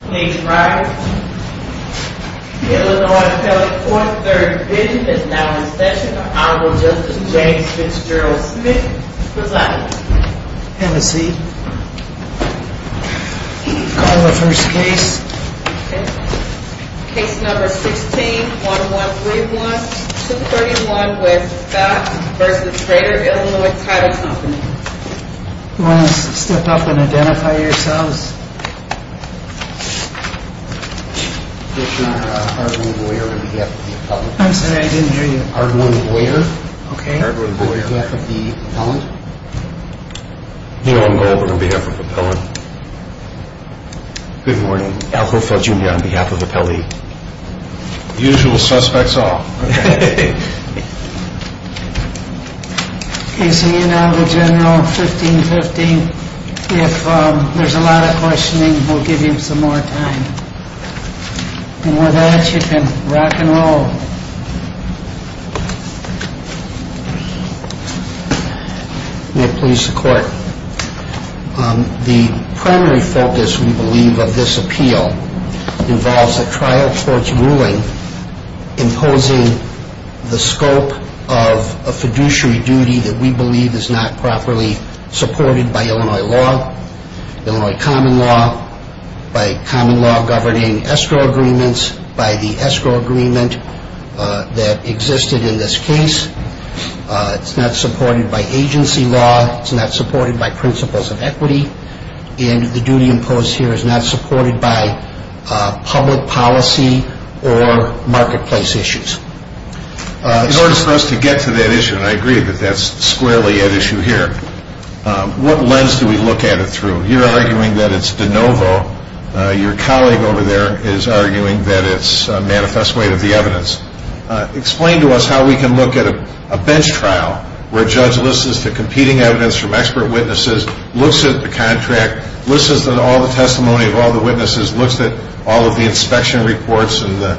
Please rise. The Illinois Telephone, 3rd Division, is now in session. Honorable Justice James Fitzgerald Smith, presiding. Have a seat. Call the first case. Case number 16-1131, 231 W. Scott v. Greater Illinois Title Co. You want to step up and identify yourselves? Ardwin Boyer, on behalf of the appellant. I'm sorry, I didn't hear you. Ardwin Boyer, on behalf of the appellant. Nealon Goldberg, on behalf of the appellant. Good morning. Al Gorefeld Jr., on behalf of the appellee. Usual suspects all. Case for you now, the general, 15-15. If there's a lot of questioning, we'll give you some more time. And with that, you can rock and roll. May it please the court. The primary focus, we believe, of this appeal involves a trial court's ruling imposing the scope of a fiduciary duty that we believe is not properly supported by Illinois law, Illinois common law, by common law governing escrow agreements, by the escrow agreement that existed in this case. It's not supported by agency law. It's not supported by principles of equity. And the duty imposed here is not supported by public policy or marketplace issues. In order for us to get to that issue, and I agree that that's squarely at issue here, what lens do we look at it through? You're arguing that it's de novo. Your colleague over there is arguing that it's a manifest way of the evidence. Explain to us how we can look at a bench trial where a judge listens to competing evidence from expert witnesses, looks at the contract, listens to all the testimony of all the witnesses, looks at all of the inspection reports and the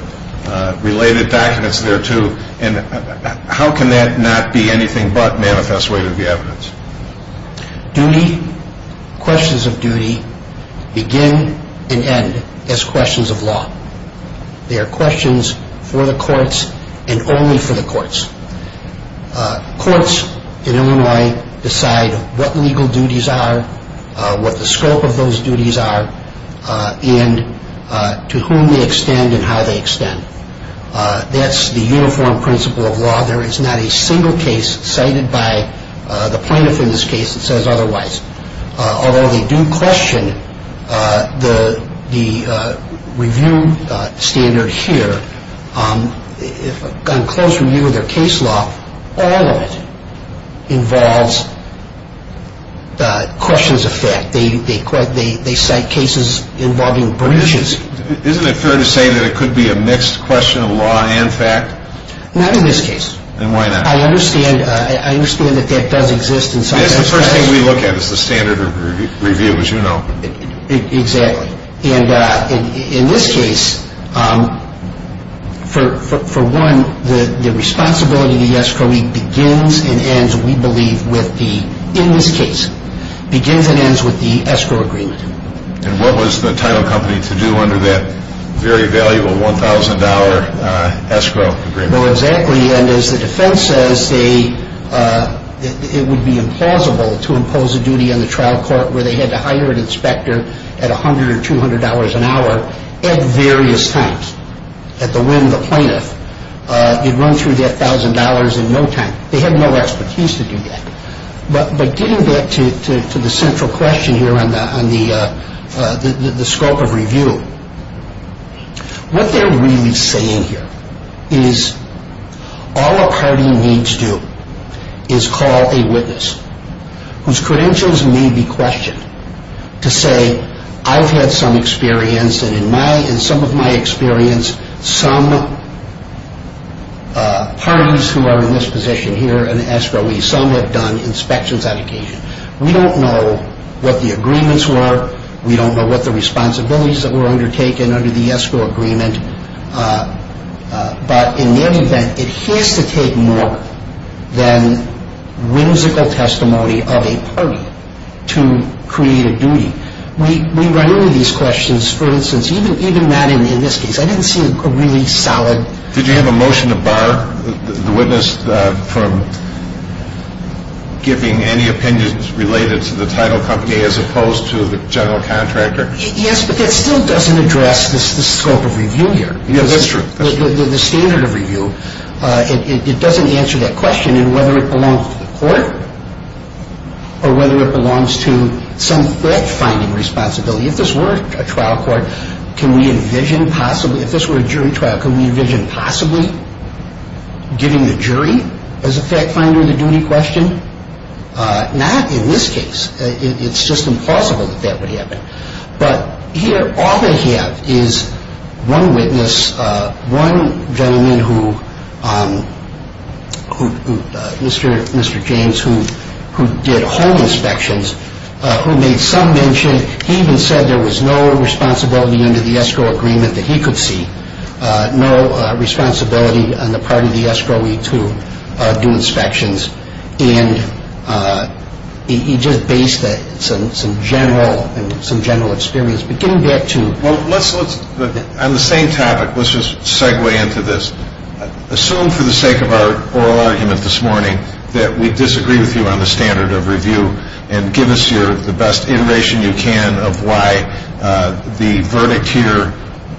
related documents thereto, and how can that not be anything but manifest way to the evidence? Duty, questions of duty, begin and end as questions of law. They are questions for the courts and only for the courts. Courts in Illinois decide what legal duties are, what the scope of those duties are, and to whom they extend and how they extend. That's the uniform principle of law. There is not a single case cited by the plaintiff in this case that says otherwise. Although they do question the review standard here, in close review of their case law, all of it involves questions of fact. They cite cases involving breaches. Isn't it fair to say that it could be a mixed question of law and fact? Not in this case. Then why not? I understand that that does exist in some cases. It's the first thing we look at. It's the standard of review, as you know. Exactly. And in this case, for one, the responsibility to the escrowee begins and ends, we believe, with the, in this case, begins and ends with the escrow agreement. And what was the title company to do under that very valuable $1,000 escrow agreement? Well, exactly. And as the defense says, it would be implausible to impose a duty on the trial court where they had to hire an inspector at $100 or $200 an hour at various times, at the whim of the plaintiff. They'd run through that $1,000 in no time. They had no expertise to do that. But getting back to the central question here on the scope of review, what they're really saying here is all a party needs to do is call a witness whose credentials may be questioned to say, I've had some experience and in some of my experience, some parties who are in this position here, an escrowee, some have done inspections on occasion. We don't know what the agreements were. We don't know what the responsibilities that were undertaken under the escrow agreement. But in any event, it has to take more than whimsical testimony of a party to create a duty. We run into these questions, for instance, even that in this case. I didn't see a really solid ---- Did you have a motion to bar the witness from giving any opinions related to the title company as opposed to the general contractor? Yes, but that still doesn't address the scope of review here. Yes, that's true. The standard of review, it doesn't answer that question in whether it belongs to the court or whether it belongs to some fact-finding responsibility. If this were a trial court, can we envision possibly ---- If this were a jury trial, can we envision possibly giving the jury as a fact-finder the duty question? Not in this case. It's just impossible that that would happen. But here, all they have is one witness, one gentleman who, Mr. James, who did home inspections, who made some mention, he even said there was no responsibility under the escrow agreement that he could see, no responsibility on the part of the escrowee to do inspections, and he just based that on some general experience. But getting back to ---- On the same topic, let's just segue into this. Assume for the sake of our oral argument this morning that we disagree with you on the standard of review and give us the best iteration you can of why the verdict here,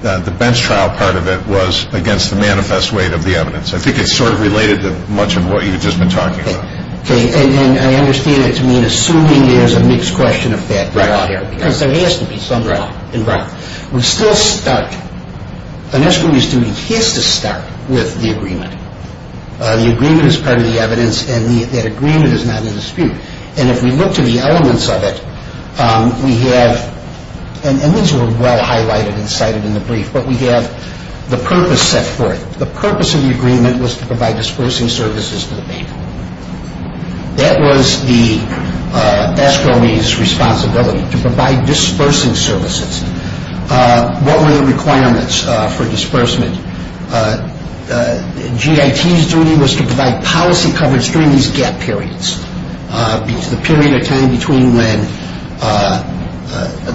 the bench trial part of it, was against the manifest weight of the evidence. I think it's sort of related to much of what you've just been talking about. Okay. And I understand it to mean assuming there's a mixed question of fact. Right. Because there has to be some doubt involved. Right. We're still stuck. An escrowee's duty has to start with the agreement. The agreement is part of the evidence, and that agreement is not in dispute. And if we look to the elements of it, we have ---- and these were well highlighted and cited in the brief ---- but we have the purpose set forth. The purpose of the agreement was to provide dispersing services to the bank. That was the escrowee's responsibility, to provide dispersing services. What were the requirements for disbursement? GIT's duty was to provide policy coverage during these gap periods, the period or time between when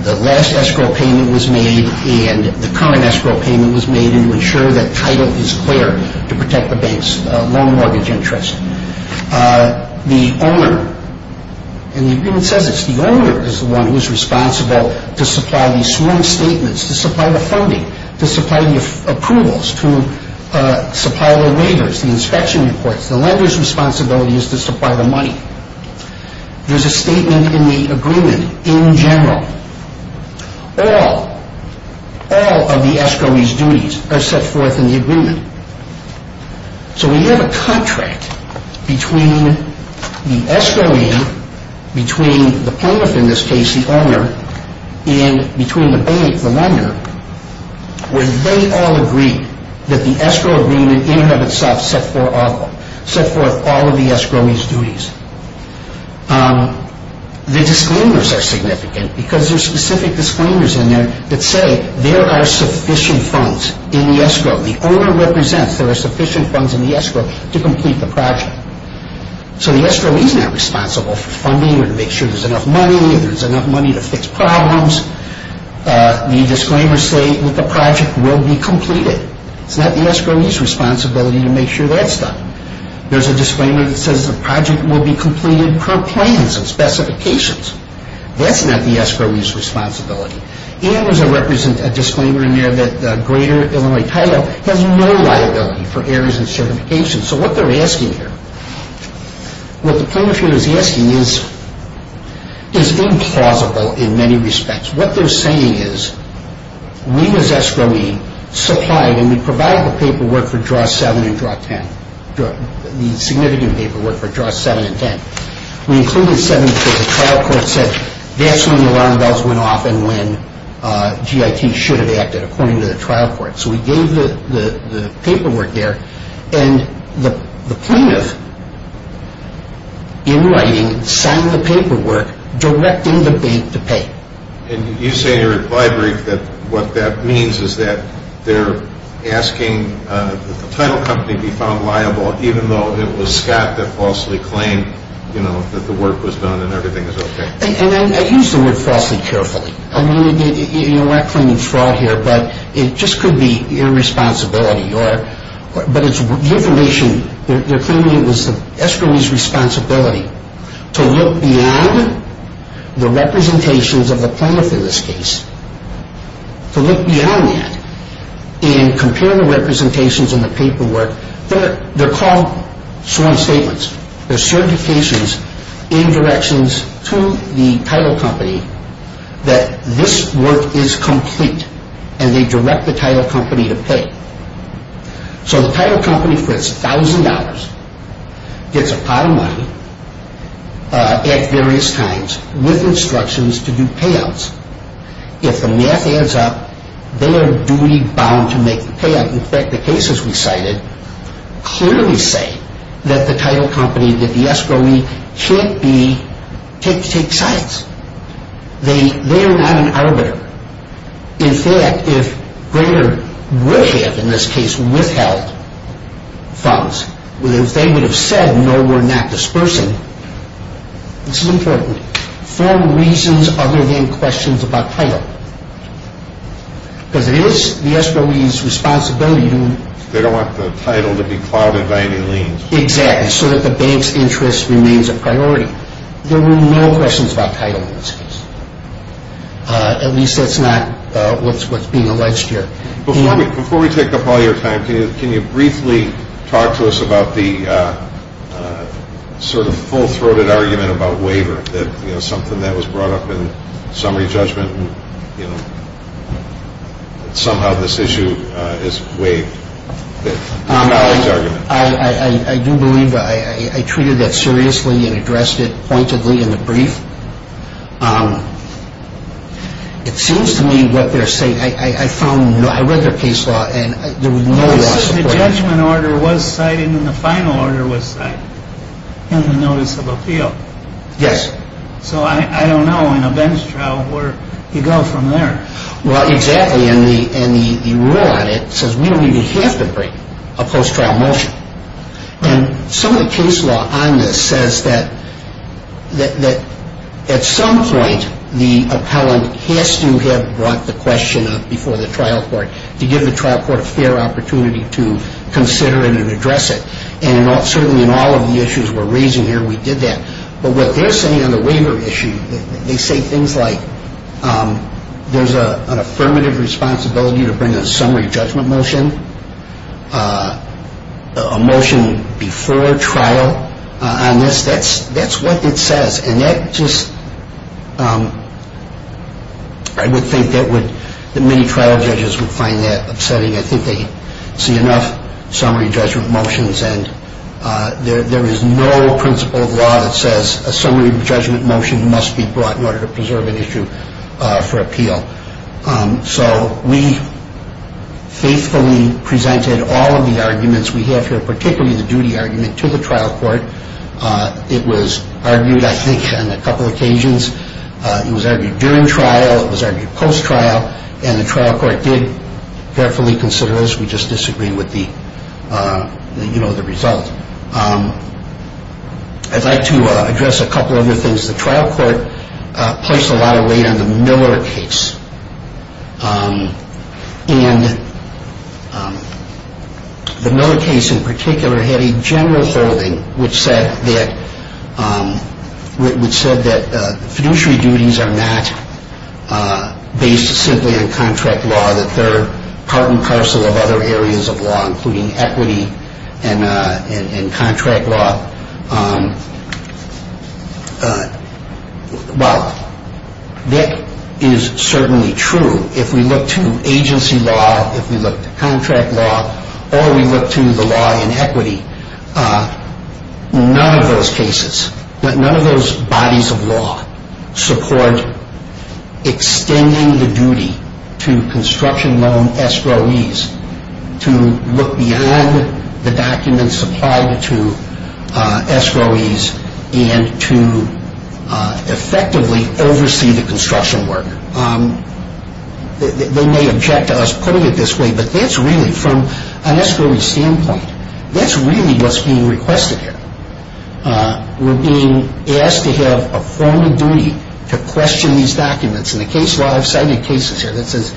the last escrow payment was made and the current escrow payment was made, and to ensure that title is clear to protect the bank's loan mortgage interest. The owner ---- and the agreement says this ---- the owner is the one who is responsible to supply these sworn statements, to supply the funding, to supply the approvals, to supply the waivers, the inspection reports. The lender's responsibility is to supply the money. There's a statement in the agreement in general. All, all of the escrowee's duties are set forth in the agreement. So we have a contract between the escrowee, between the plaintiff, in this case the owner, and between the bank, the lender, where they all agree that the escrow agreement in and of itself set forth all of the escrowee's duties. The disclaimers are significant because there are specific disclaimers in there that say there are sufficient funds in the escrow. The owner represents there are sufficient funds in the escrow to complete the project. So the escrowee is not responsible for funding or to make sure there's enough money, there's enough money to fix problems. The disclaimers say that the project will be completed. It's not the escrowee's responsibility to make sure that's done. There's a disclaimer that says the project will be completed per plans and specifications. That's not the escrowee's responsibility. And there's a disclaimer in there that Greater Illinois Title has no liability for errors and certifications. So what they're asking here, what the plaintiff here is asking is implausible in many respects. What they're saying is we as escrowee supplied and we provided the paperwork for Draw 7 and Draw 10, the significant paperwork for Draw 7 and 10. We included 7 because the trial court said that's when the alarm bells went off and when GIT should have acted according to the trial court. So we gave the paperwork there. And the plaintiff, in writing, signed the paperwork directing the bank to pay. And you say here at the library that what that means is that they're asking the title company be found liable even though it was Scott that falsely claimed that the work was done and everything was okay. And I use the word falsely carefully. I'm not claiming fraud here, but it just could be irresponsibility. But the information they're claiming was the escrowee's responsibility to look beyond the representations of the plaintiff in this case, to look beyond that and compare the representations and the paperwork. They're called sworn statements. They're certifications in directions to the title company that this work is complete and they direct the title company to pay. So the title company for its $1,000 gets a pot of money at various times with instructions to do payouts. If the math adds up, they are duty-bound to make the payout. In fact, the cases we cited clearly say that the title company, that the escrowee, can't take sides. They are not an arbiter. In fact, if Greger would have, in this case, withheld funds, if they would have said no, we're not dispersing, this is important. Form reasons other than questions about title. Because it is the escrowee's responsibility to... They don't want the title to be clouded by any liens. Exactly, so that the bank's interest remains a priority. There were no questions about title in this case. At least that's not what's being alleged here. Before we take up all your time, can you briefly talk to us about the sort of full-throated argument about waiver, that something that was brought up in summary judgment, and somehow this issue is waived. I do believe I treated that seriously and addressed it pointedly in the brief. It seems to me what they're saying... I read their case law and there was no... The judgment order was cited and the final order was cited in the notice of appeal. Yes. So I don't know in a bench trial where you go from there. Well, exactly, and the rule on it says we don't even have to bring a post-trial motion. And some of the case law on this says that at some point the appellant has to have brought the question up before the trial court to give the trial court a fair opportunity to consider it and address it. And certainly in all of the issues we're raising here, we did that. But what they're saying on the waiver issue, they say things like there's an affirmative responsibility to bring a summary judgment motion, a motion before trial on this. That's what it says. And that just... I would think that many trial judges would find that upsetting. I think they see enough summary judgment motions, and there is no principle of law that says a summary judgment motion must be brought in order to preserve an issue for appeal. So we faithfully presented all of the arguments we have here, particularly the duty argument, to the trial court. It was argued, I think, on a couple of occasions. It was argued during trial. It was argued post-trial. And the trial court did carefully consider those. We just disagreed with the result. I'd like to address a couple other things. The trial court placed a lot of weight on the Miller case. And the Miller case in particular had a general holding, which said that fiduciary duties are not based simply on contract law, that they're part and parcel of other areas of law, including equity and contract law. Well, that is certainly true. If we look to agency law, if we look to contract law, or we look to the law in equity, none of those cases, none of those bodies of law support extending the duty to construction loan escrowees to look beyond the documents applied to escrowees and to effectively oversee the construction work. They may object to us putting it this way, but that's really, from an escrowee standpoint, that's really what's being requested here. We're being asked to have a formal duty to question these documents. And the case law, I've cited cases here that says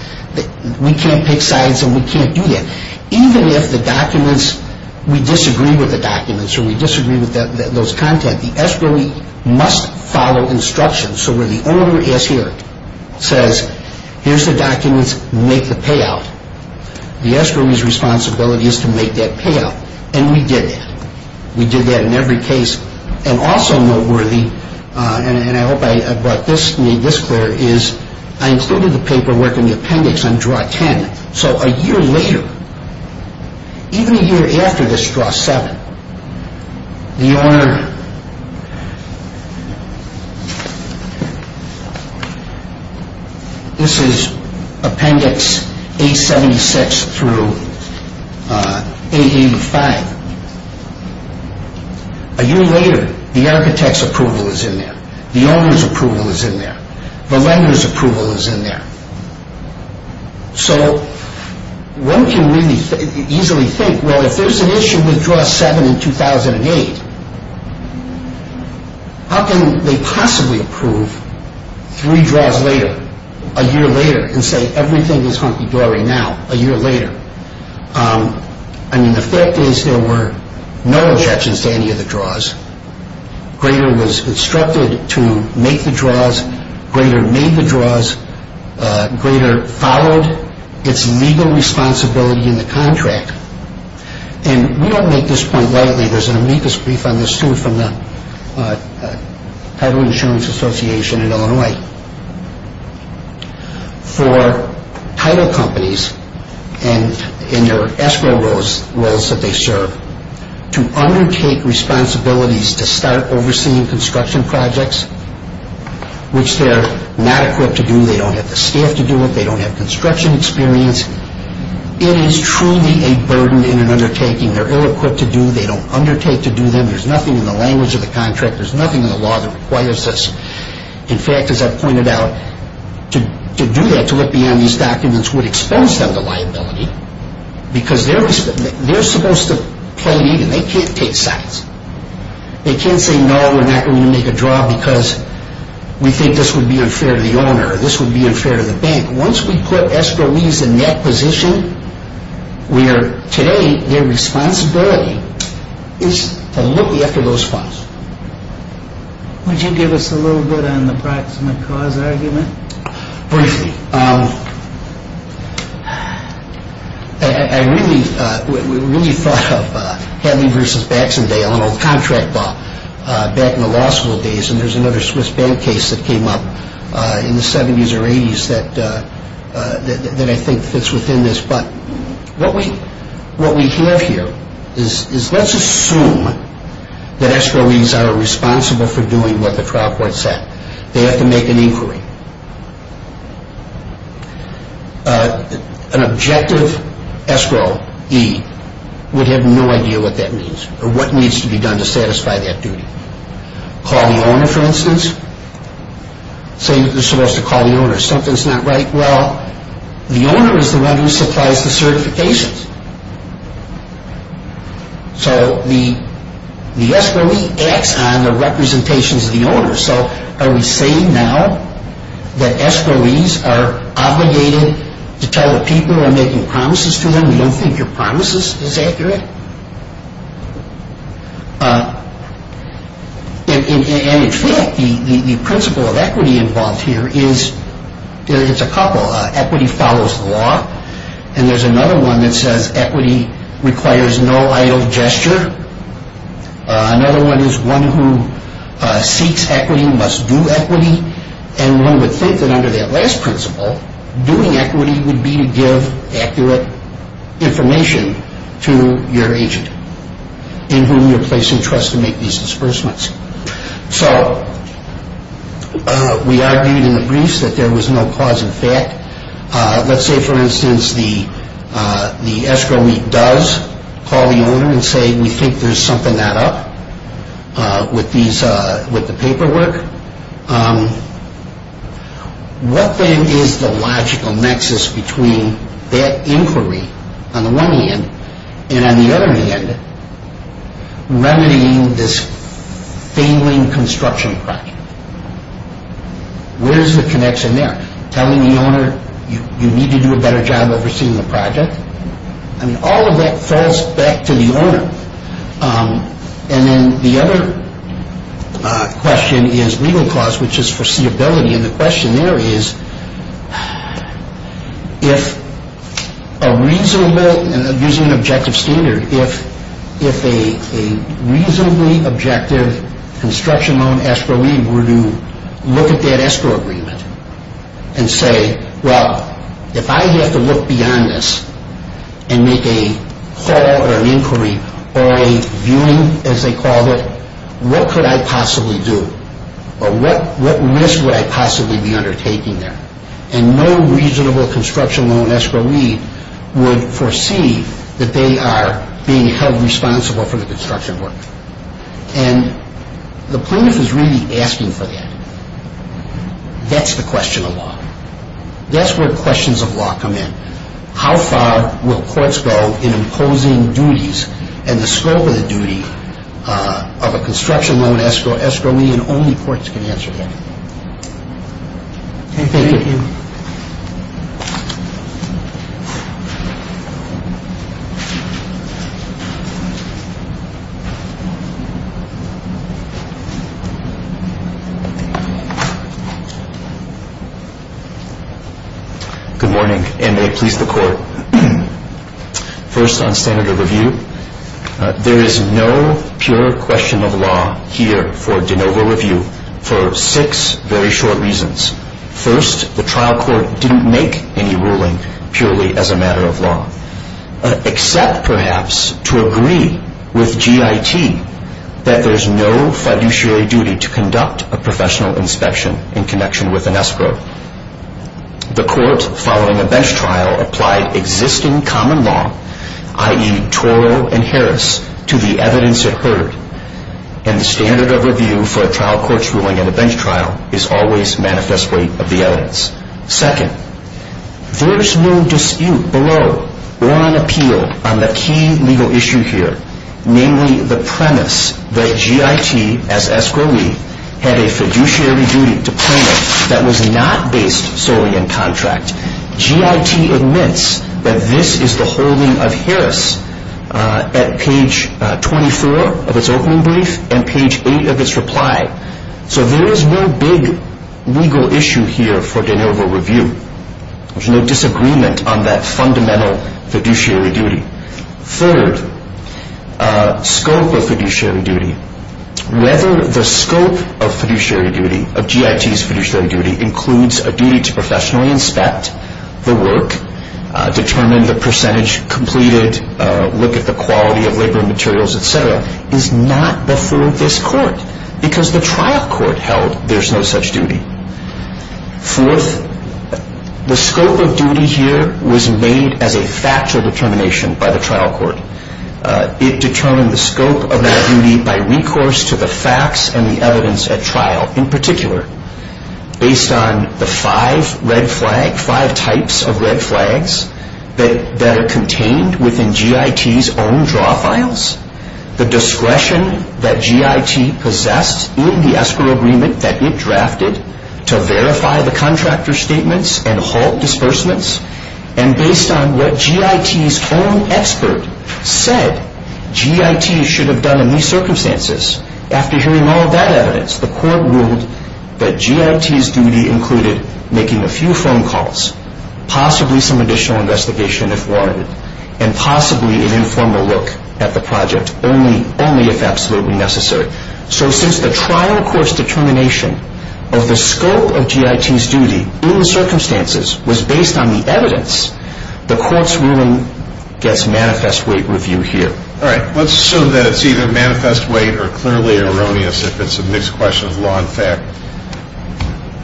we can't pick sides and we can't do that. Even if the documents, we disagree with the documents or we disagree with those content, the escrowee must follow instructions. So where the owner is here, says, here's the documents, make the payout. The escrowee's responsibility is to make that payout. And we did that. We did that in every case. And also noteworthy, and I hope I brought this clear, is I included the paperwork in the appendix on Draw 10. So a year later, even a year after this Draw 7, the owner, this is Appendix 876 through 885. A year later, the architect's approval is in there. The owner's approval is in there. The lender's approval is in there. So one can really easily think, well, if there's an issue with Draw 7 in 2008, how can they possibly approve three draws later, a year later, and say everything is hunky-dory now, a year later? I mean, the fact is there were no objections to any of the draws. Grader was instructed to make the draws. Grader made the draws. Grader followed its legal responsibility in the contract. And we don't make this point lightly. There's an amicus brief on this, too, from the Title Insurance Association in Illinois. For title companies in their escrow roles that they serve to undertake responsibilities to start overseeing construction projects, which they're not equipped to do. They don't have the staff to do it. They don't have construction experience. It is truly a burden in an undertaking. They're ill-equipped to do. They don't undertake to do them. There's nothing in the language of the contract. There's nothing in the law that requires this. In fact, as I've pointed out, to do that, to look beyond these documents would expose them to liability because they're supposed to play it even. They can't take sides. They can't say, no, we're not going to make a draw because we think this would be unfair to the owner. This would be unfair to the bank. Once we put escrow leads in that position, where today their responsibility is to look after those funds. Would you give us a little bit on the proximate cause argument? Briefly, I really thought of Hadley versus Baxendale, an old contract law back in the law school days, and there's another Swiss bank case that came up in the 70s or 80s that I think fits within this. But what we have here is let's assume that escrow leads are responsible for doing what the trial court said. They have to make an inquiry. An objective escrow lead would have no idea what that means or what needs to be done to satisfy that duty. Call the owner, for instance. Say you're supposed to call the owner. Something's not right. Well, the owner is the one who supplies the certifications. So the escrow lead acts on the representations of the owner. So are we saying now that escrow leads are obligated to tell the people who are making promises to them, we don't think your promises is accurate? And in fact, the principle of equity involved here is it's a couple. Equity follows the law, and there's another one that says equity requires no idle gesture. Another one is one who seeks equity must do equity, and one would think that under that last principle, doing equity would be to give accurate information to your agent in whom you're placing trust to make these disbursements. So we argued in the briefs that there was no cause in fact. Let's say, for instance, the escrow lead does call the owner and say we think there's something not up with the paperwork. What then is the logical nexus between that inquiry on the one hand and on the other hand, remedying this failing construction project? Where is the connection there? Telling the owner you need to do a better job overseeing the project? I mean, all of that falls back to the owner. And then the other question is legal cause, which is foreseeability, and the question there is if a reasonable, and I'm using an objective standard, if a reasonably objective construction loan escrow lead were to look at that escrow agreement and say, well, if I have to look beyond this and make a call or an inquiry or a viewing, as they called it, what could I possibly do? Or what risk would I possibly be undertaking there? And no reasonable construction loan escrow lead would foresee that they are being held responsible for the construction work. And the plaintiff is really asking for that. That's the question of law. That's where questions of law come in. How far will courts go in imposing duties and the scope of the duty of a construction loan escrow lead, and only courts can answer that. Thank you. Good morning, and may it please the Court. First on standard of review, there is no pure question of law here for de novo review for six very short reasons. First, the trial court didn't make any ruling purely as a matter of law, except perhaps to agree with GIT that there's no fiduciary duty to conduct a professional inspection in connection with an escrow. The court, following a bench trial, applied existing common law, i.e., Toro and Harris, to the evidence it heard. And the standard of review for a trial court's ruling in a bench trial is always manifest weight of the evidence. Second, there's no dispute below or an appeal on the key legal issue here, namely the premise that GIT, as escrow lead, had a fiduciary duty to plaintiff that was not based solely in contract. GIT admits that this is the holding of Harris at page 24 of its opening brief and page 8 of its reply. So there is no big legal issue here for de novo review. There's no disagreement on that fundamental fiduciary duty. Third, scope of fiduciary duty. Whether the scope of fiduciary duty, of GIT's fiduciary duty, includes a duty to professionally inspect the work, determine the percentage completed, look at the quality of labor materials, et cetera, is not before this court. Because the trial court held there's no such duty. Fourth, the scope of duty here was made as a factual determination by the trial court. It determined the scope of that duty by recourse to the facts and the evidence at trial in particular. Based on the five red flags, five types of red flags, that are contained within GIT's own draw files, the discretion that GIT possessed in the escrow agreement that it drafted to verify the contractor's statements and halt disbursements, and based on what GIT's own expert said GIT should have done in these circumstances, after hearing all of that evidence, the court ruled that GIT's duty included making a few phone calls, possibly some additional investigation if warranted, and possibly an informal look at the project, only if absolutely necessary. So since the trial court's determination of the scope of GIT's duty in the circumstances was based on the evidence, the court's ruling gets manifest weight review here. All right, let's assume that it's either manifest weight or clearly erroneous if it's a mixed question of law and fact.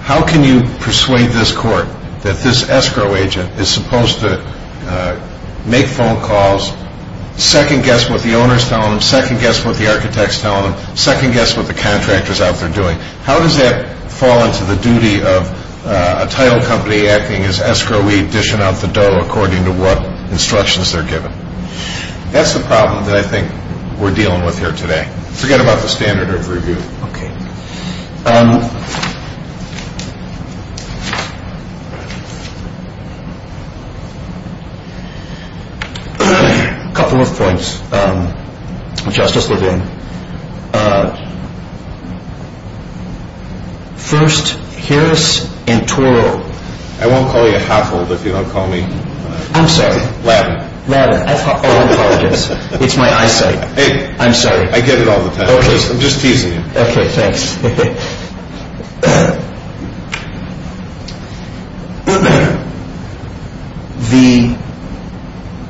How can you persuade this court that this escrow agent is supposed to make phone calls, second-guess what the owners tell them, second-guess what the architects tell them, how does that fall into the duty of a title company acting as escrow weed, dishing out the dough according to what instructions they're given? That's the problem that I think we're dealing with here today. Forget about the standard of review. Okay. A couple of points, Justice Levin. First, Harris and Toro— I won't call you a half-walled if you don't call me— I'm sorry. —ladder. Ladder. I apologize. It's my eyesight. I'm sorry. I get it all the time. I'm just teasing you. Okay, thanks.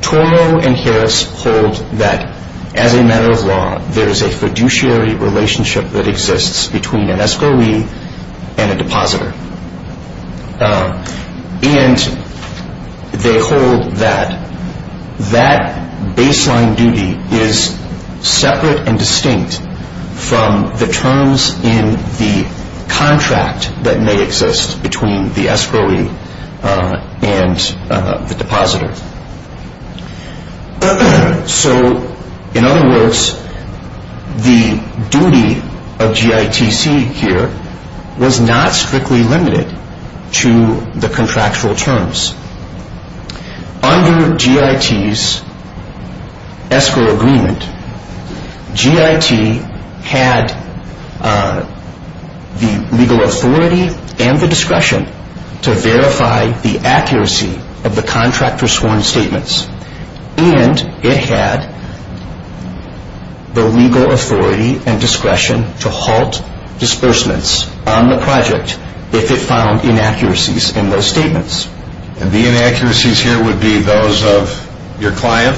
The—Toro and Harris hold that as a matter of law, there is a fiduciary relationship that exists between an escrow weed and a depositor. And they hold that that baseline duty is separate and distinct from the terms in the contract that may exist between the escrow weed and the depositor. So, in other words, the duty of GITC here was not strictly limited to the contractual terms. Under GIT's escrow agreement, GIT had the legal authority and the discretion to verify the accuracy of the contractor's sworn statements. And it had the legal authority and discretion to halt disbursements on the project if it found inaccuracies in those statements. And the inaccuracies here would be those of your client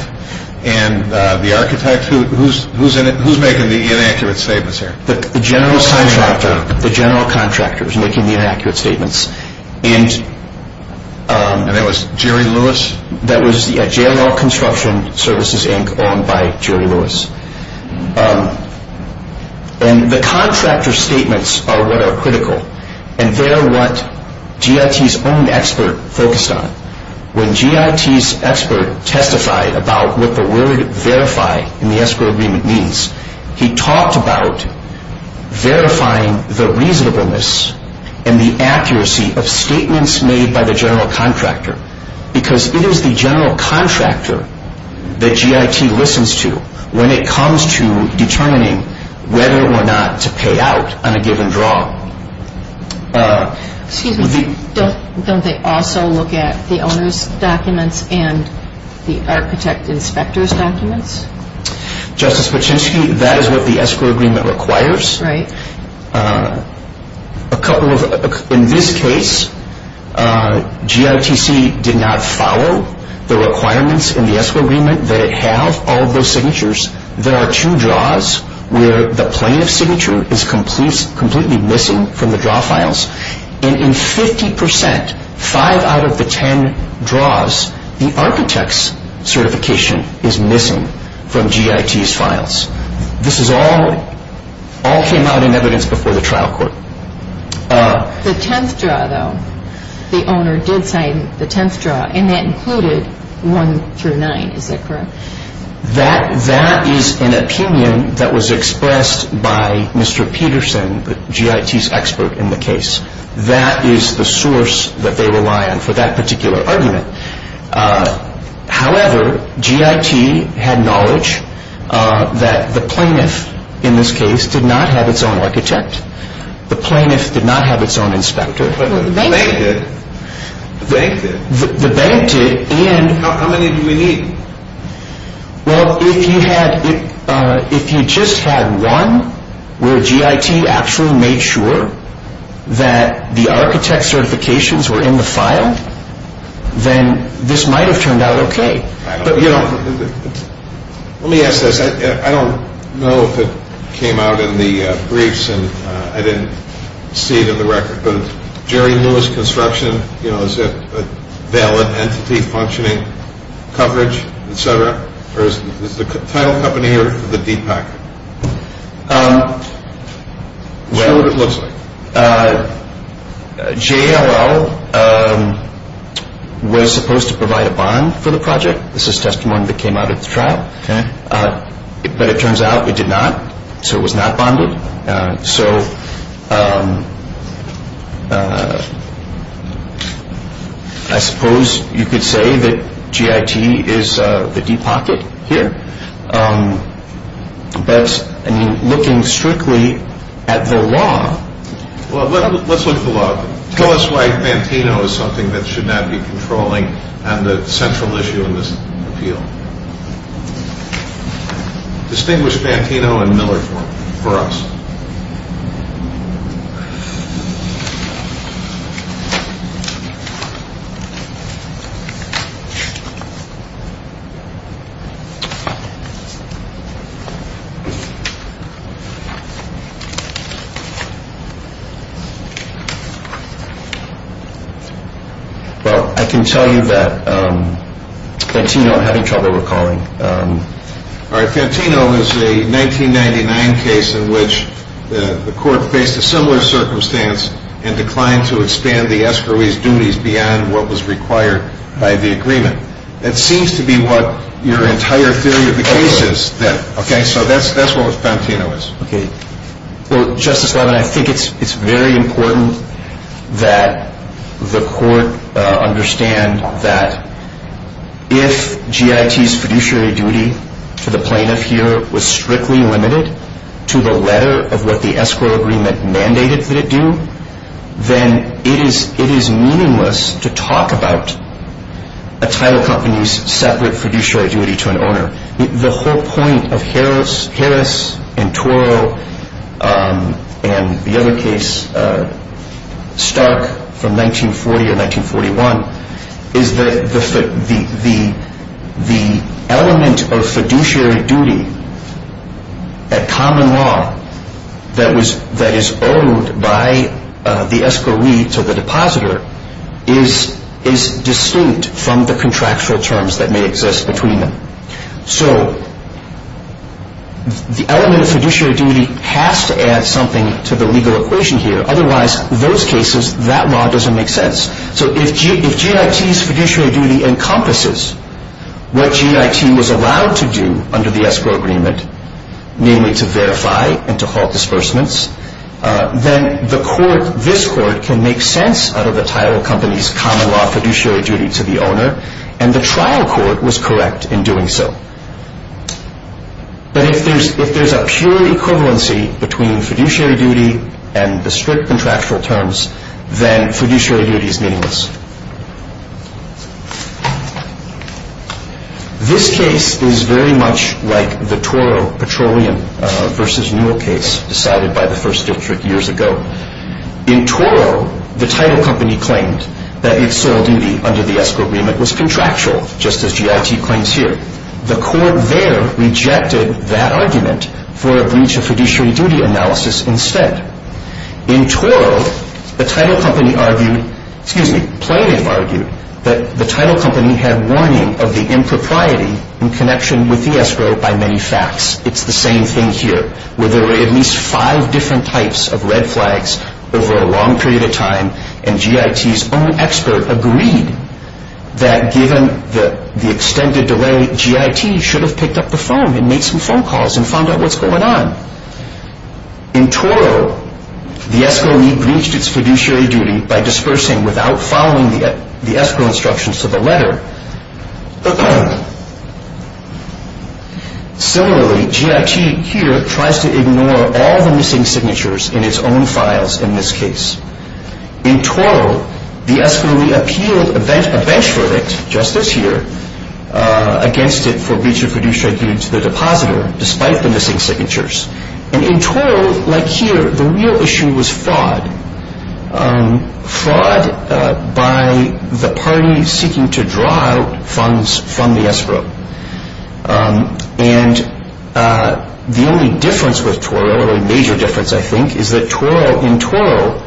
and the architect? Who's making the inaccurate statements here? The general contractor. The general contractor is making the inaccurate statements. And that was Jerry Lewis? That was JLL Construction Services Inc. owned by Jerry Lewis. And the contractor's statements are what are critical. And they're what GIT's own expert focused on. When GIT's expert testified about what the word verify in the escrow agreement means, he talked about verifying the reasonableness and the accuracy of statements made by the general contractor. Because it is the general contractor that GIT listens to when it comes to determining whether or not to pay out on a given draw. Excuse me. Don't they also look at the owner's documents and the architect inspector's documents? Justice Paczynski, that is what the escrow agreement requires. Right. In this case, GITC did not follow the requirements in the escrow agreement that it have all those signatures. There are two draws where the plaintiff's signature is completely missing from the draw files. And in 50%, five out of the ten draws, the architect's certification is missing from GIT's files. This all came out in evidence before the trial court. The tenth draw, though, the owner did sign the tenth draw. And that included one through nine. Is that correct? That is an opinion that was expressed by Mr. Peterson, GIT's expert in the case. That is the source that they rely on for that particular argument. However, GIT had knowledge that the plaintiff, in this case, did not have its own architect. The plaintiff did not have its own inspector. But the bank did. The bank did. The bank did and How many do we need? Well, if you just had one where GIT actually made sure that the architect's certifications were in the file, then this might have turned out okay. Let me ask this. I don't know if it came out in the briefs and I didn't see it in the record, but Jerry Lewis Construction, you know, is that a valid entity, functioning, coverage, et cetera? Or is it the title company or the DPAC? Well, JLL was supposed to provide a bond for the project. This is testimony that came out at the trial. But it turns out it did not. So it was not bonded. So I suppose you could say that GIT is the deep pocket here. But, I mean, looking strictly at the law. Well, let's look at the law. Tell us why Fantino is something that should not be controlling on the central issue in this appeal. Distinguish Fantino and Miller for us. Well, I can tell you that Fantino, I'm having trouble recalling. All right, Fantino is a 1999 case in which the court faced a similar circumstance and declined to expand the escrowees' duties beyond what was required by the agreement. That seems to be what your entire theory of the case is then. So that's what Fantino is. Well, Justice Levin, I think it's very important that the court understand that if GIT's fiduciary duty to the plaintiff here was strictly limited to the letter of what the escrow agreement mandated that it do, then it is meaningless to talk about a title company's separate fiduciary duty to an owner. The whole point of Harris and Toro and the other case, Stark, from 1940 to 1941, is that the element of fiduciary duty at common law that is owed by the escrowee to the depositor is distinct from the contractual terms that may exist between them. So the element of fiduciary duty has to add something to the legal equation here. Otherwise, in those cases, that law doesn't make sense. So if GIT's fiduciary duty encompasses what GIT was allowed to do under the escrow agreement, namely to verify and to halt disbursements, then this court can make sense out of the title company's common law fiduciary duty to the owner, and the trial court was correct in doing so. But if there's a pure equivalency between fiduciary duty and the strict contractual terms, then fiduciary duty is meaningless. This case is very much like the Toro Petroleum v. Newell case decided by the First District years ago. In Toro, the title company claimed that its sole duty under the escrow agreement was contractual, just as GIT claims here. The court there rejected that argument for a breach of fiduciary duty analysis instead. In Toro, the title company argued, excuse me, plaintiff argued that the title company had warning of the impropriety in connection with the escrow by many facts. It's the same thing here, where there were at least five different types of red flags over a long period of time, and GIT's own expert agreed that given the extended delay, GIT should have picked up the phone and made some phone calls and found out what's going on. In Toro, the escrow lead breached its fiduciary duty by dispersing without following the escrow instructions to the letter. Similarly, GIT here tries to ignore all the missing signatures in its own files in this case. In Toro, the escrow lead appealed a bench verdict just this year against it for breach of fiduciary duty to the depositor, despite the missing signatures. And in Toro, like here, the real issue was fraud. Fraud by the party seeking to draw out funds from the escrow. And the only difference with Toro, or a major difference, I think, is that in Toro,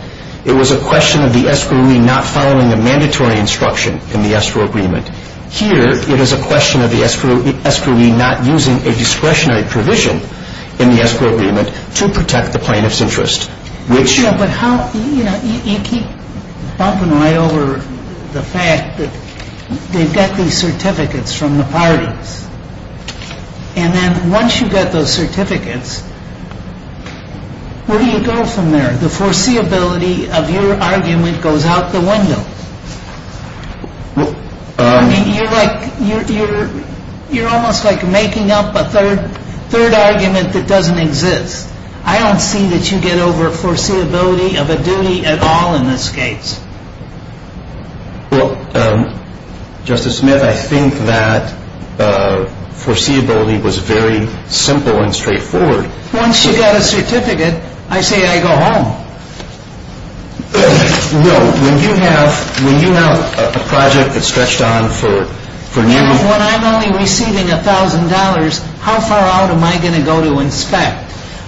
it was a question of the escrow lead not following a mandatory instruction in the escrow agreement. Here, it is a question of the escrow lead not using a discretionary provision in the escrow agreement to protect the plaintiff's interest, which But how, you know, you keep bumping right over the fact that they've got these certificates from the parties. And then once you get those certificates, where do you go from there? The foreseeability of your argument goes out the window. I mean, you're like, you're almost like making up a third argument that doesn't exist. I don't see that you get over foreseeability of a duty at all in this case. Well, Justice Smith, I think that foreseeability was very simple and straightforward. Once you got a certificate, I say I go home. Well, when you have a project that's stretched on for nearly When I'm only receiving $1,000, how far out am I going to go to inspect?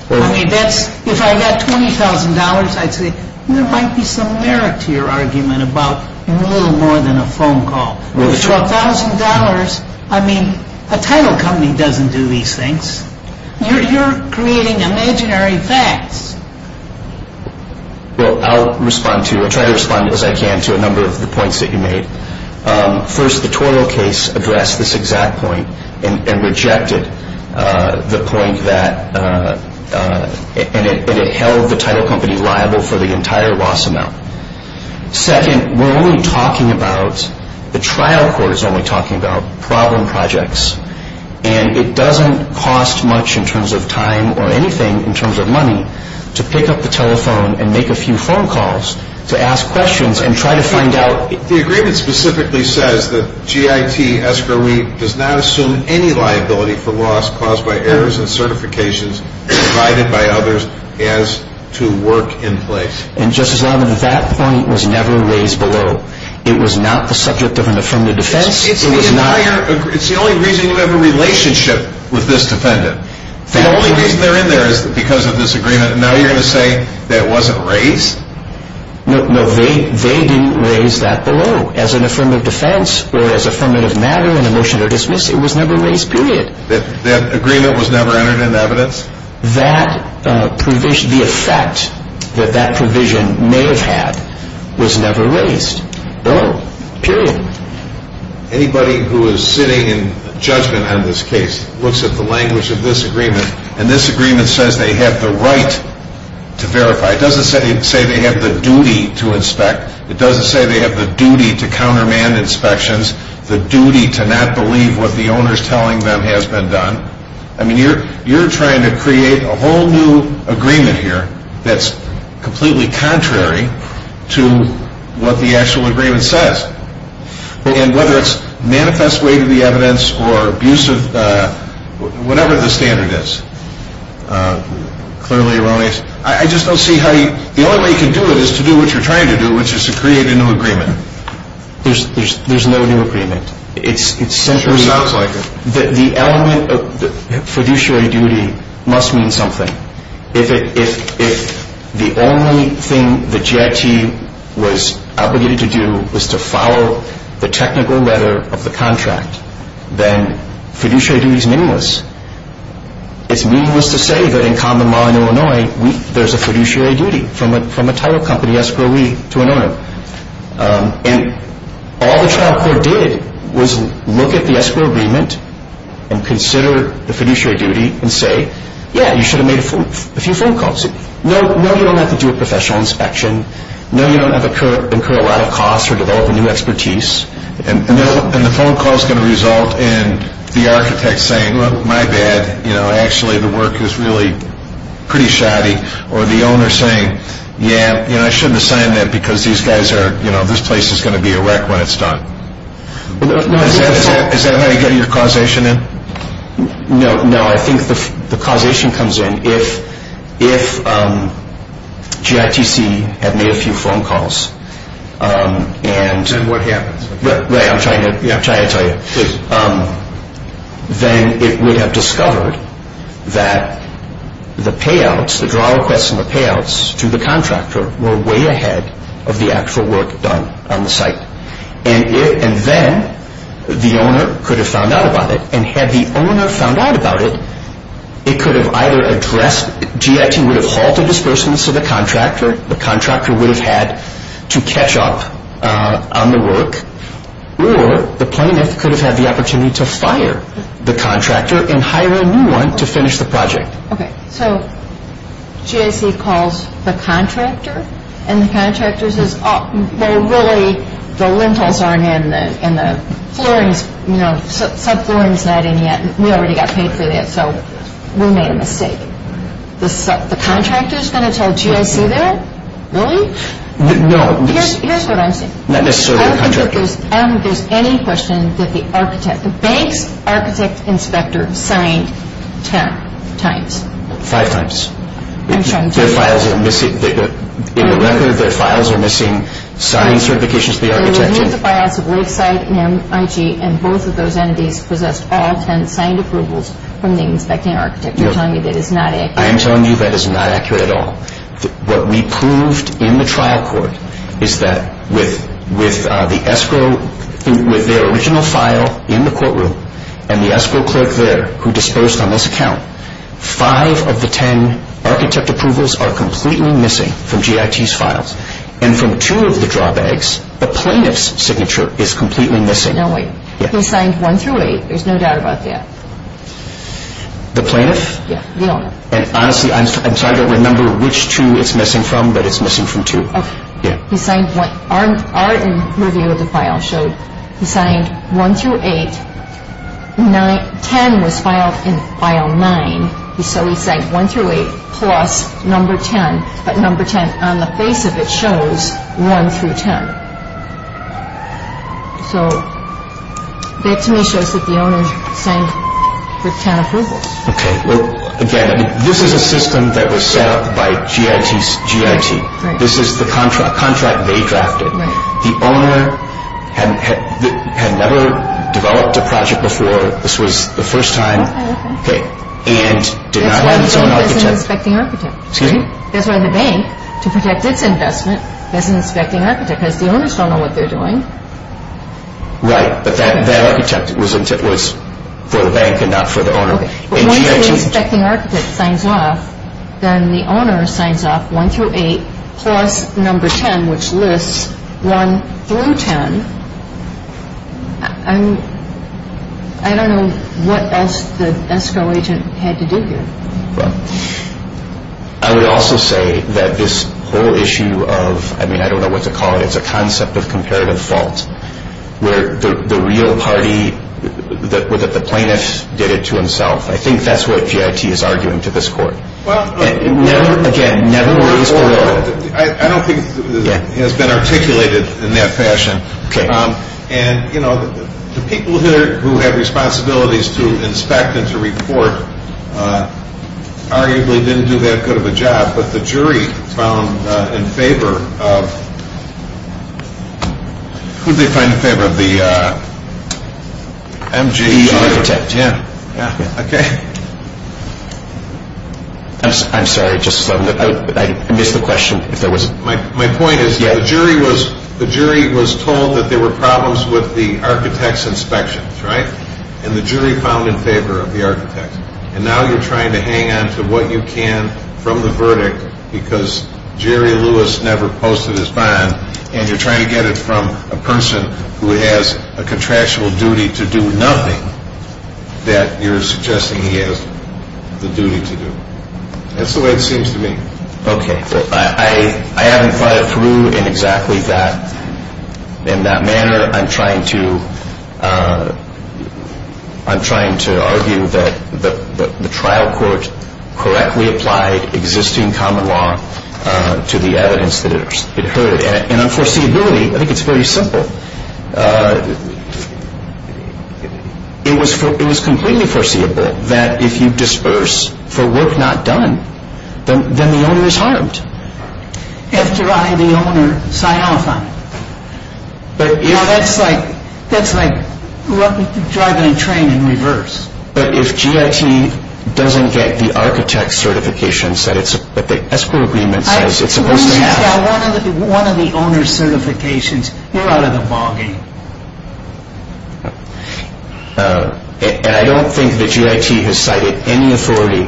I mean, if I got $20,000, I'd say there might be some merit to your argument about a little more than a phone call. With $12,000, I mean, a title company doesn't do these things. You're creating imaginary facts. Well, I'll respond to it. I'll try to respond as I can to a number of the points that you made. First, the toil case addressed this exact point and rejected the point that And it held the title company liable for the entire loss amount. Second, we're only talking about the trial court is only talking about problem projects. And it doesn't cost much in terms of time or anything in terms of money to pick up the telephone and make a few phone calls to ask questions and try to find out The agreement specifically says that G.I.T. does not assume any liability for loss caused by errors and certifications provided by others as to work in place. And, Justice Levin, that point was never raised below. It was not the subject of an affirmative defense. It's the only reason you have a relationship with this defendant. The only reason they're in there is because of this agreement. And now you're going to say that it wasn't raised? No, they didn't raise that below. As an affirmative defense or as affirmative matter in a motion to dismiss, it was never raised, period. That agreement was never entered in evidence? The effect that that provision may have had was never raised. No, period. Anybody who is sitting in judgment on this case looks at the language of this agreement, and this agreement says they have the right to verify. It doesn't say they have the duty to inspect. It doesn't say they have the duty to countermand inspections, the duty to not believe what the owner is telling them has been done. I mean, you're trying to create a whole new agreement here that's completely contrary to what the actual agreement says. And whether it's manifest way to the evidence or abusive, whatever the standard is, clearly erroneous. I just don't see how you – the only way you can do it is to do what you're trying to do, which is to create a new agreement. There's no new agreement. It's simply – Sure sounds like it. The element of fiduciary duty must mean something. If the only thing the JIT was obligated to do was to follow the technical letter of the contract, then fiduciary duty is meaningless. It's meaningless to say that in common law in Illinois, there's a fiduciary duty from a title company escrowee to an owner. And all the trial court did was look at the escrow agreement and consider the fiduciary duty and say, yeah, you should have made a few phone calls. No, you don't have to do a professional inspection. No, you don't have to incur a lot of costs or develop a new expertise. And the phone call is going to result in the architect saying, well, my bad. Actually, the work is really pretty shoddy. Or the owner saying, yeah, I shouldn't have signed that because these guys are – this place is going to be a wreck when it's done. Is that how you get your causation in? No, I think the causation comes in if JITC had made a few phone calls and – And what happens? Ray, I'm trying to tell you. Then it would have discovered that the payouts, the draw requests and the payouts to the contractor were way ahead of the actual work done on the site. And then the owner could have found out about it. And had the owner found out about it, it could have either addressed – JIT would have halted disbursements to the contractor. The contractor would have had to catch up on the work. Or the plaintiff could have had the opportunity to fire the contractor and hire a new one to finish the project. Okay. So JITC calls the contractor and the contractor says, well, really, the lintels aren't in and the flooring is – subflooring is not in yet. We already got paid for that. So we made a mistake. The contractor is going to tell JITC that? Really? No. Here's what I'm saying. Not necessarily the contractor. I don't think there's any question that the architect – the bank's architect inspector signed ten times. Five times. I'm trying to tell you. Their files are missing – in the record, their files are missing signed certifications to the architect. They removed the buyouts of Lakeside and MIG, and both of those entities possessed all ten signed approvals from the inspecting architect. You're telling me that is not accurate? I am telling you that is not accurate at all. What we proved in the trial court is that with the escrow – with their original file in the courtroom and the escrow clerk there who disposed on this account, five of the ten architect approvals are completely missing from JITC's files. And from two of the draw bags, the plaintiff's signature is completely missing. No way. He signed one through eight. There's no doubt about that. The plaintiff? Yeah, the owner. And honestly, I'm trying to remember which two it's missing from, but it's missing from two. Okay. He signed – our review of the file showed he signed one through eight. Ten was filed in file nine. So he signed one through eight plus number ten, but number ten on the face of it shows one through ten. So that to me shows that the owner signed with ten approvals. Okay. Well, again, this is a system that was set up by JIT. This is the contract they drafted. The owner had never developed a project before. This was the first time. Okay, okay. And did not have its own architect. That's why the bank doesn't inspect the architect. Excuse me? The owners don't know what they're doing. Right, but that architect was for the bank and not for the owner. Once the inspecting architect signs off, then the owner signs off one through eight plus number ten, which lists one through ten. I don't know what else the ESCO agent had to do here. I would also say that this whole issue of, I mean, I don't know what to call it. It's a concept of comparative fault where the real party, that the plaintiff did it to himself. I think that's what JIT is arguing to this court. Well, I don't think it has been articulated in that fashion. The people who have responsibilities to inspect and to report arguably didn't do that good of a job, but the jury found in favor of, who did they find in favor of? The MGE architect. MGE architect, yeah. Okay. I'm sorry. I missed the question. My point is the jury was told that there were problems with the architect's inspections, right, and the jury found in favor of the architect. And now you're trying to hang on to what you can from the verdict because Jerry Lewis never posted his bond, and you're trying to get it from a person who has a contractual duty to do nothing that you're suggesting he has the duty to do. That's the way it seems to me. Okay. I haven't thought it through in exactly that manner. I'm trying to argue that the trial court correctly applied existing common law to the evidence that it heard. And unforeseeability, I think it's very simple. It was completely foreseeable that if you disperse for work not done, then the owner is harmed. After I, the owner, sign off on it. That's like driving a train in reverse. But if GIT doesn't get the architect's certifications that the escrow agreement says it's supposed to have. Once you've got one of the owner's certifications, you're out of the ballgame. And I don't think that GIT has cited any authority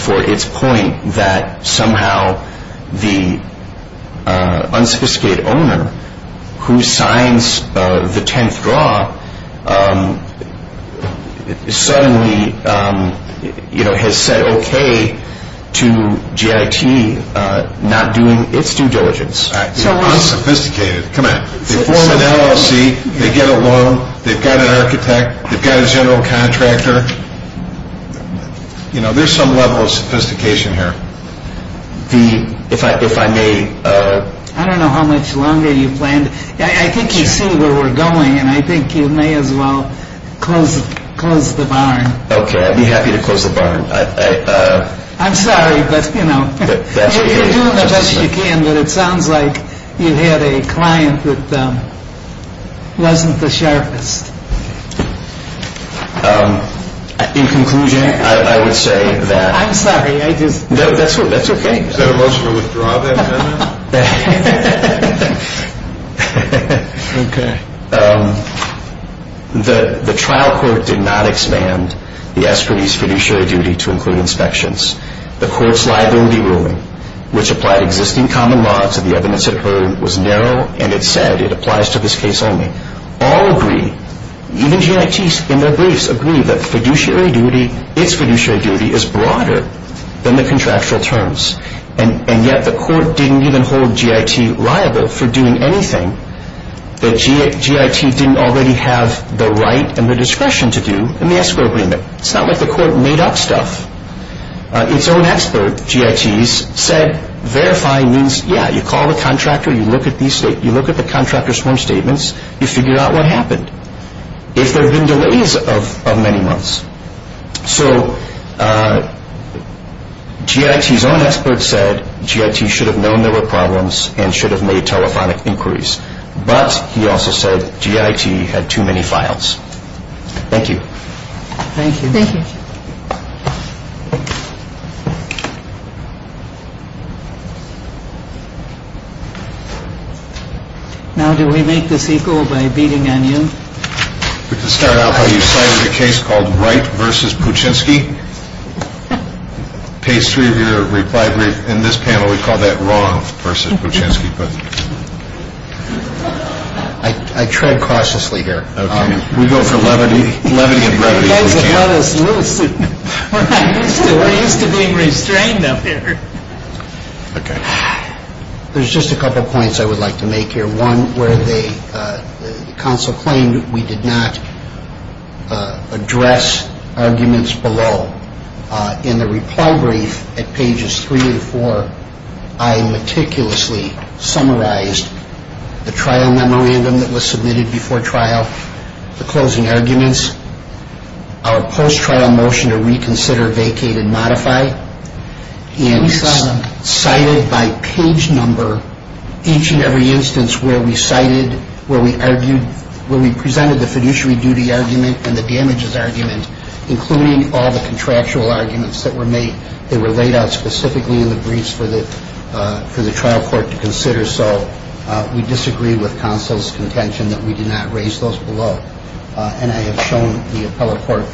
for its point that somehow the unsophisticated owner who signs the tenth draw suddenly has said okay to GIT not doing its due diligence. It's unsophisticated. Come on. They form an LLC. They get a loan. They've got an architect. They've got a general contractor. You know, there's some level of sophistication here. If I may. I don't know how much longer you planned. I think you see where we're going. And I think you may as well close the barn. Okay. I'd be happy to close the barn. I'm sorry. You can do as much as you can, but it sounds like you had a client that wasn't the sharpest. In conclusion, I would say that. I'm sorry. That's okay. Is that a motion to withdraw that amendment? Okay. The trial court did not expand the escrow's fiduciary duty to include inspections. The court's liability ruling, which applied existing common law to the evidence it heard, was narrow, and it said it applies to this case only. All agree, even GITs in their briefs agree, that fiduciary duty, its fiduciary duty, is broader than the contractual terms. And yet the court didn't even hold GIT liable for doing anything that GIT didn't already have the right and the discretion to do in the escrow agreement. It's not like the court made up stuff. Its own expert, GITs, said verifying means, yeah, you call the contractor, you look at the contractor's form statements, you figure out what happened, if there have been delays of many months. So GIT's own expert said GIT should have known there were problems and should have made telephonic inquiries, but he also said GIT had too many files. Thank you. Thank you. Thank you. Now do we make this equal by beating on you? We can start out how you cited a case called Wright v. Puchinski. Page 3 of your reply brief, in this panel we call that wrong versus Puchinski. I tread cautiously here. Okay. We go for levity. Levity of brevity. You guys have held us loose. We're used to being restrained up here. Okay. There's just a couple points I would like to make here. One, where the counsel claimed we did not address arguments below. In the reply brief at pages 3 and 4, I meticulously summarized the trial memorandum that was submitted before trial, the closing arguments, our post-trial motion to reconsider, vacate, and modify, and cited by page number each and every instance where we cited, where we argued, where we presented the fiduciary duty argument and the damages argument, including all the contractual arguments that were made. They were laid out specifically in the briefs for the trial court to consider. So we disagree with counsel's contention that we did not raise those below. And I have shown the appellate court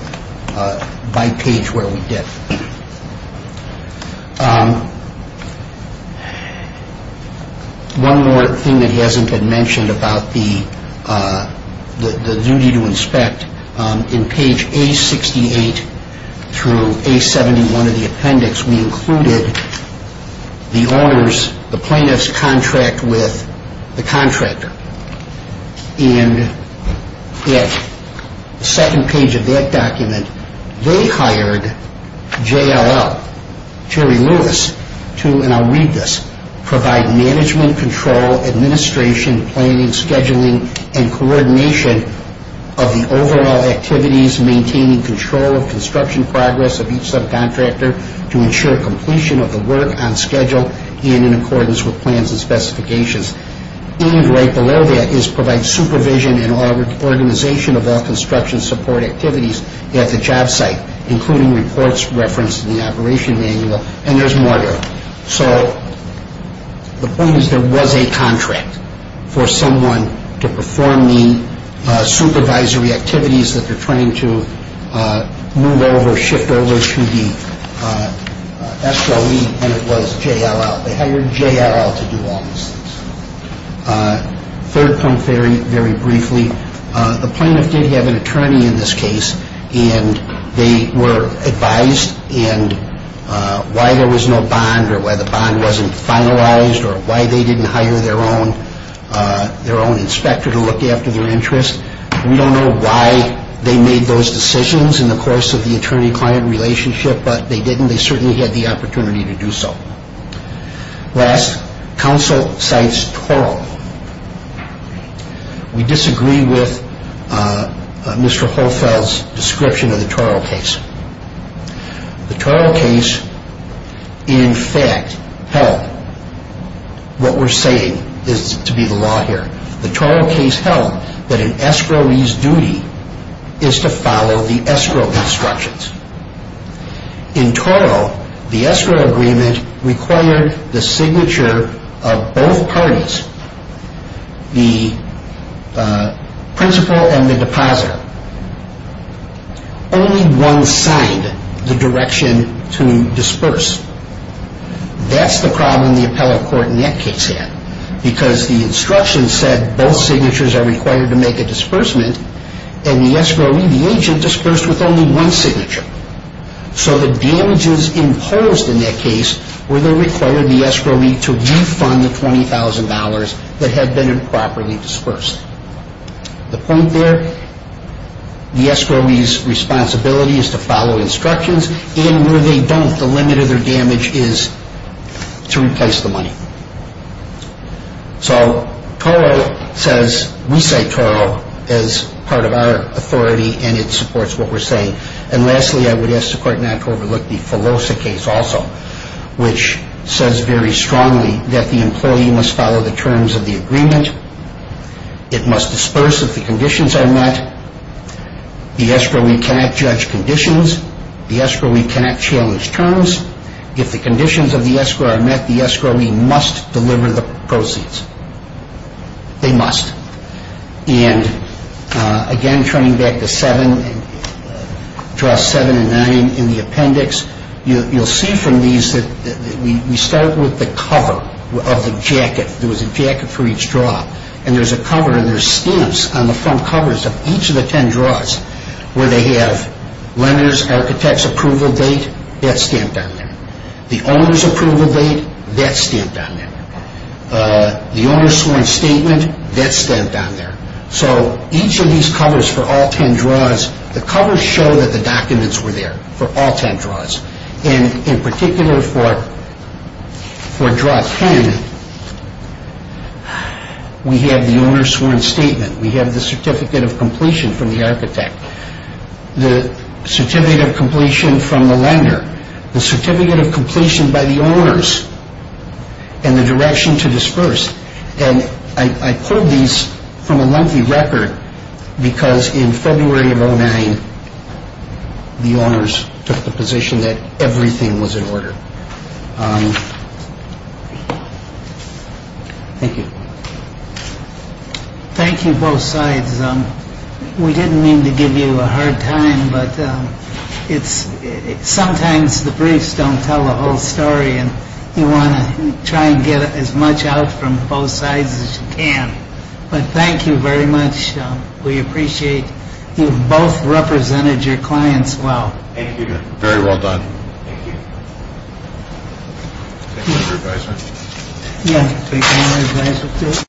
by page where we did. One more thing that hasn't been mentioned about the duty to inspect. In page A68 through A71 of the appendix, we included the owner's, the plaintiff's contract with the contractor. And at the second page of that document, they hired JLL, Jerry Lewis, to, and I'll read this, provide management, control, administration, planning, scheduling, and coordination of the overall activities, maintaining control of construction progress of each subcontractor to ensure completion of the work on schedule and in accordance with plans and specifications. And right below that is provide supervision and organization of all construction support activities at the job site, including reports referenced in the operation manual. And there's more there. So the point is there was a contract for someone to perform the supervisory activities that they're trained to move over, shift over to the SOE, and it was JLL. They hired JLL to do all these things. Third point very briefly, the plaintiff did have an attorney in this case, and they were advised and why there was no bond or why the bond wasn't finalized or why they didn't hire their own inspector to look after their interest. We don't know why they made those decisions in the course of the attorney-client relationship, but they didn't. And they certainly had the opportunity to do so. Last, counsel cites TORL. We disagree with Mr. Holfeld's description of the TORL case. The TORL case in fact held what we're saying is to be the law here. The TORL case held that an escrowee's duty is to follow the escrow instructions. In TORL, the escrow agreement required the signature of both parties, the principal and the depositor. Only one signed the direction to disperse. That's the problem the appellate court in that case had because the instructions said both signatures are required to make a disbursement, and the escrowee, the agent, dispersed with only one signature. So the damages imposed in that case were they required the escrowee to refund the $20,000 that had been improperly dispersed. The point there, the escrowee's responsibility is to follow instructions, and where they don't, the limit of their damage is to replace the money. So TORL says we cite TORL as part of our authority, and it supports what we're saying. And lastly, I would ask the court not to overlook the FELOSA case also, which says very strongly that the employee must follow the terms of the agreement. It must disperse if the conditions are met. The escrowee cannot judge conditions. The escrowee cannot challenge terms. If the conditions of the escrow are met, the escrowee must deliver the proceeds. They must. And again, turning back to Draw 7 and 9 in the appendix, you'll see from these that we start with the cover of the jacket. There was a jacket for each draw, and there's a cover, and there's stamps on the front covers of each of the ten draws where they have lender's, architect's approval date, that's stamped on there. The owner's approval date, that's stamped on there. The owner's sworn statement, that's stamped on there. So each of these covers for all ten draws, the covers show that the documents were there for all ten draws. And in particular for Draw 10, we have the owner's sworn statement. We have the certificate of completion from the architect, the certificate of completion from the lender, the certificate of completion by the owners, and the direction to disperse. And I pulled these from a lengthy record because in February of 2009, the owners took the position that everything was in order. Thank you. Thank you both sides. We didn't mean to give you a hard time, but sometimes the briefs don't tell the whole story, and you want to try and get as much out from both sides as you can. But thank you very much. We appreciate you've both represented your clients well. Thank you. Very well done. Thank you. Thank you, Mr. Advisor. Thank you, Mr. Advisor.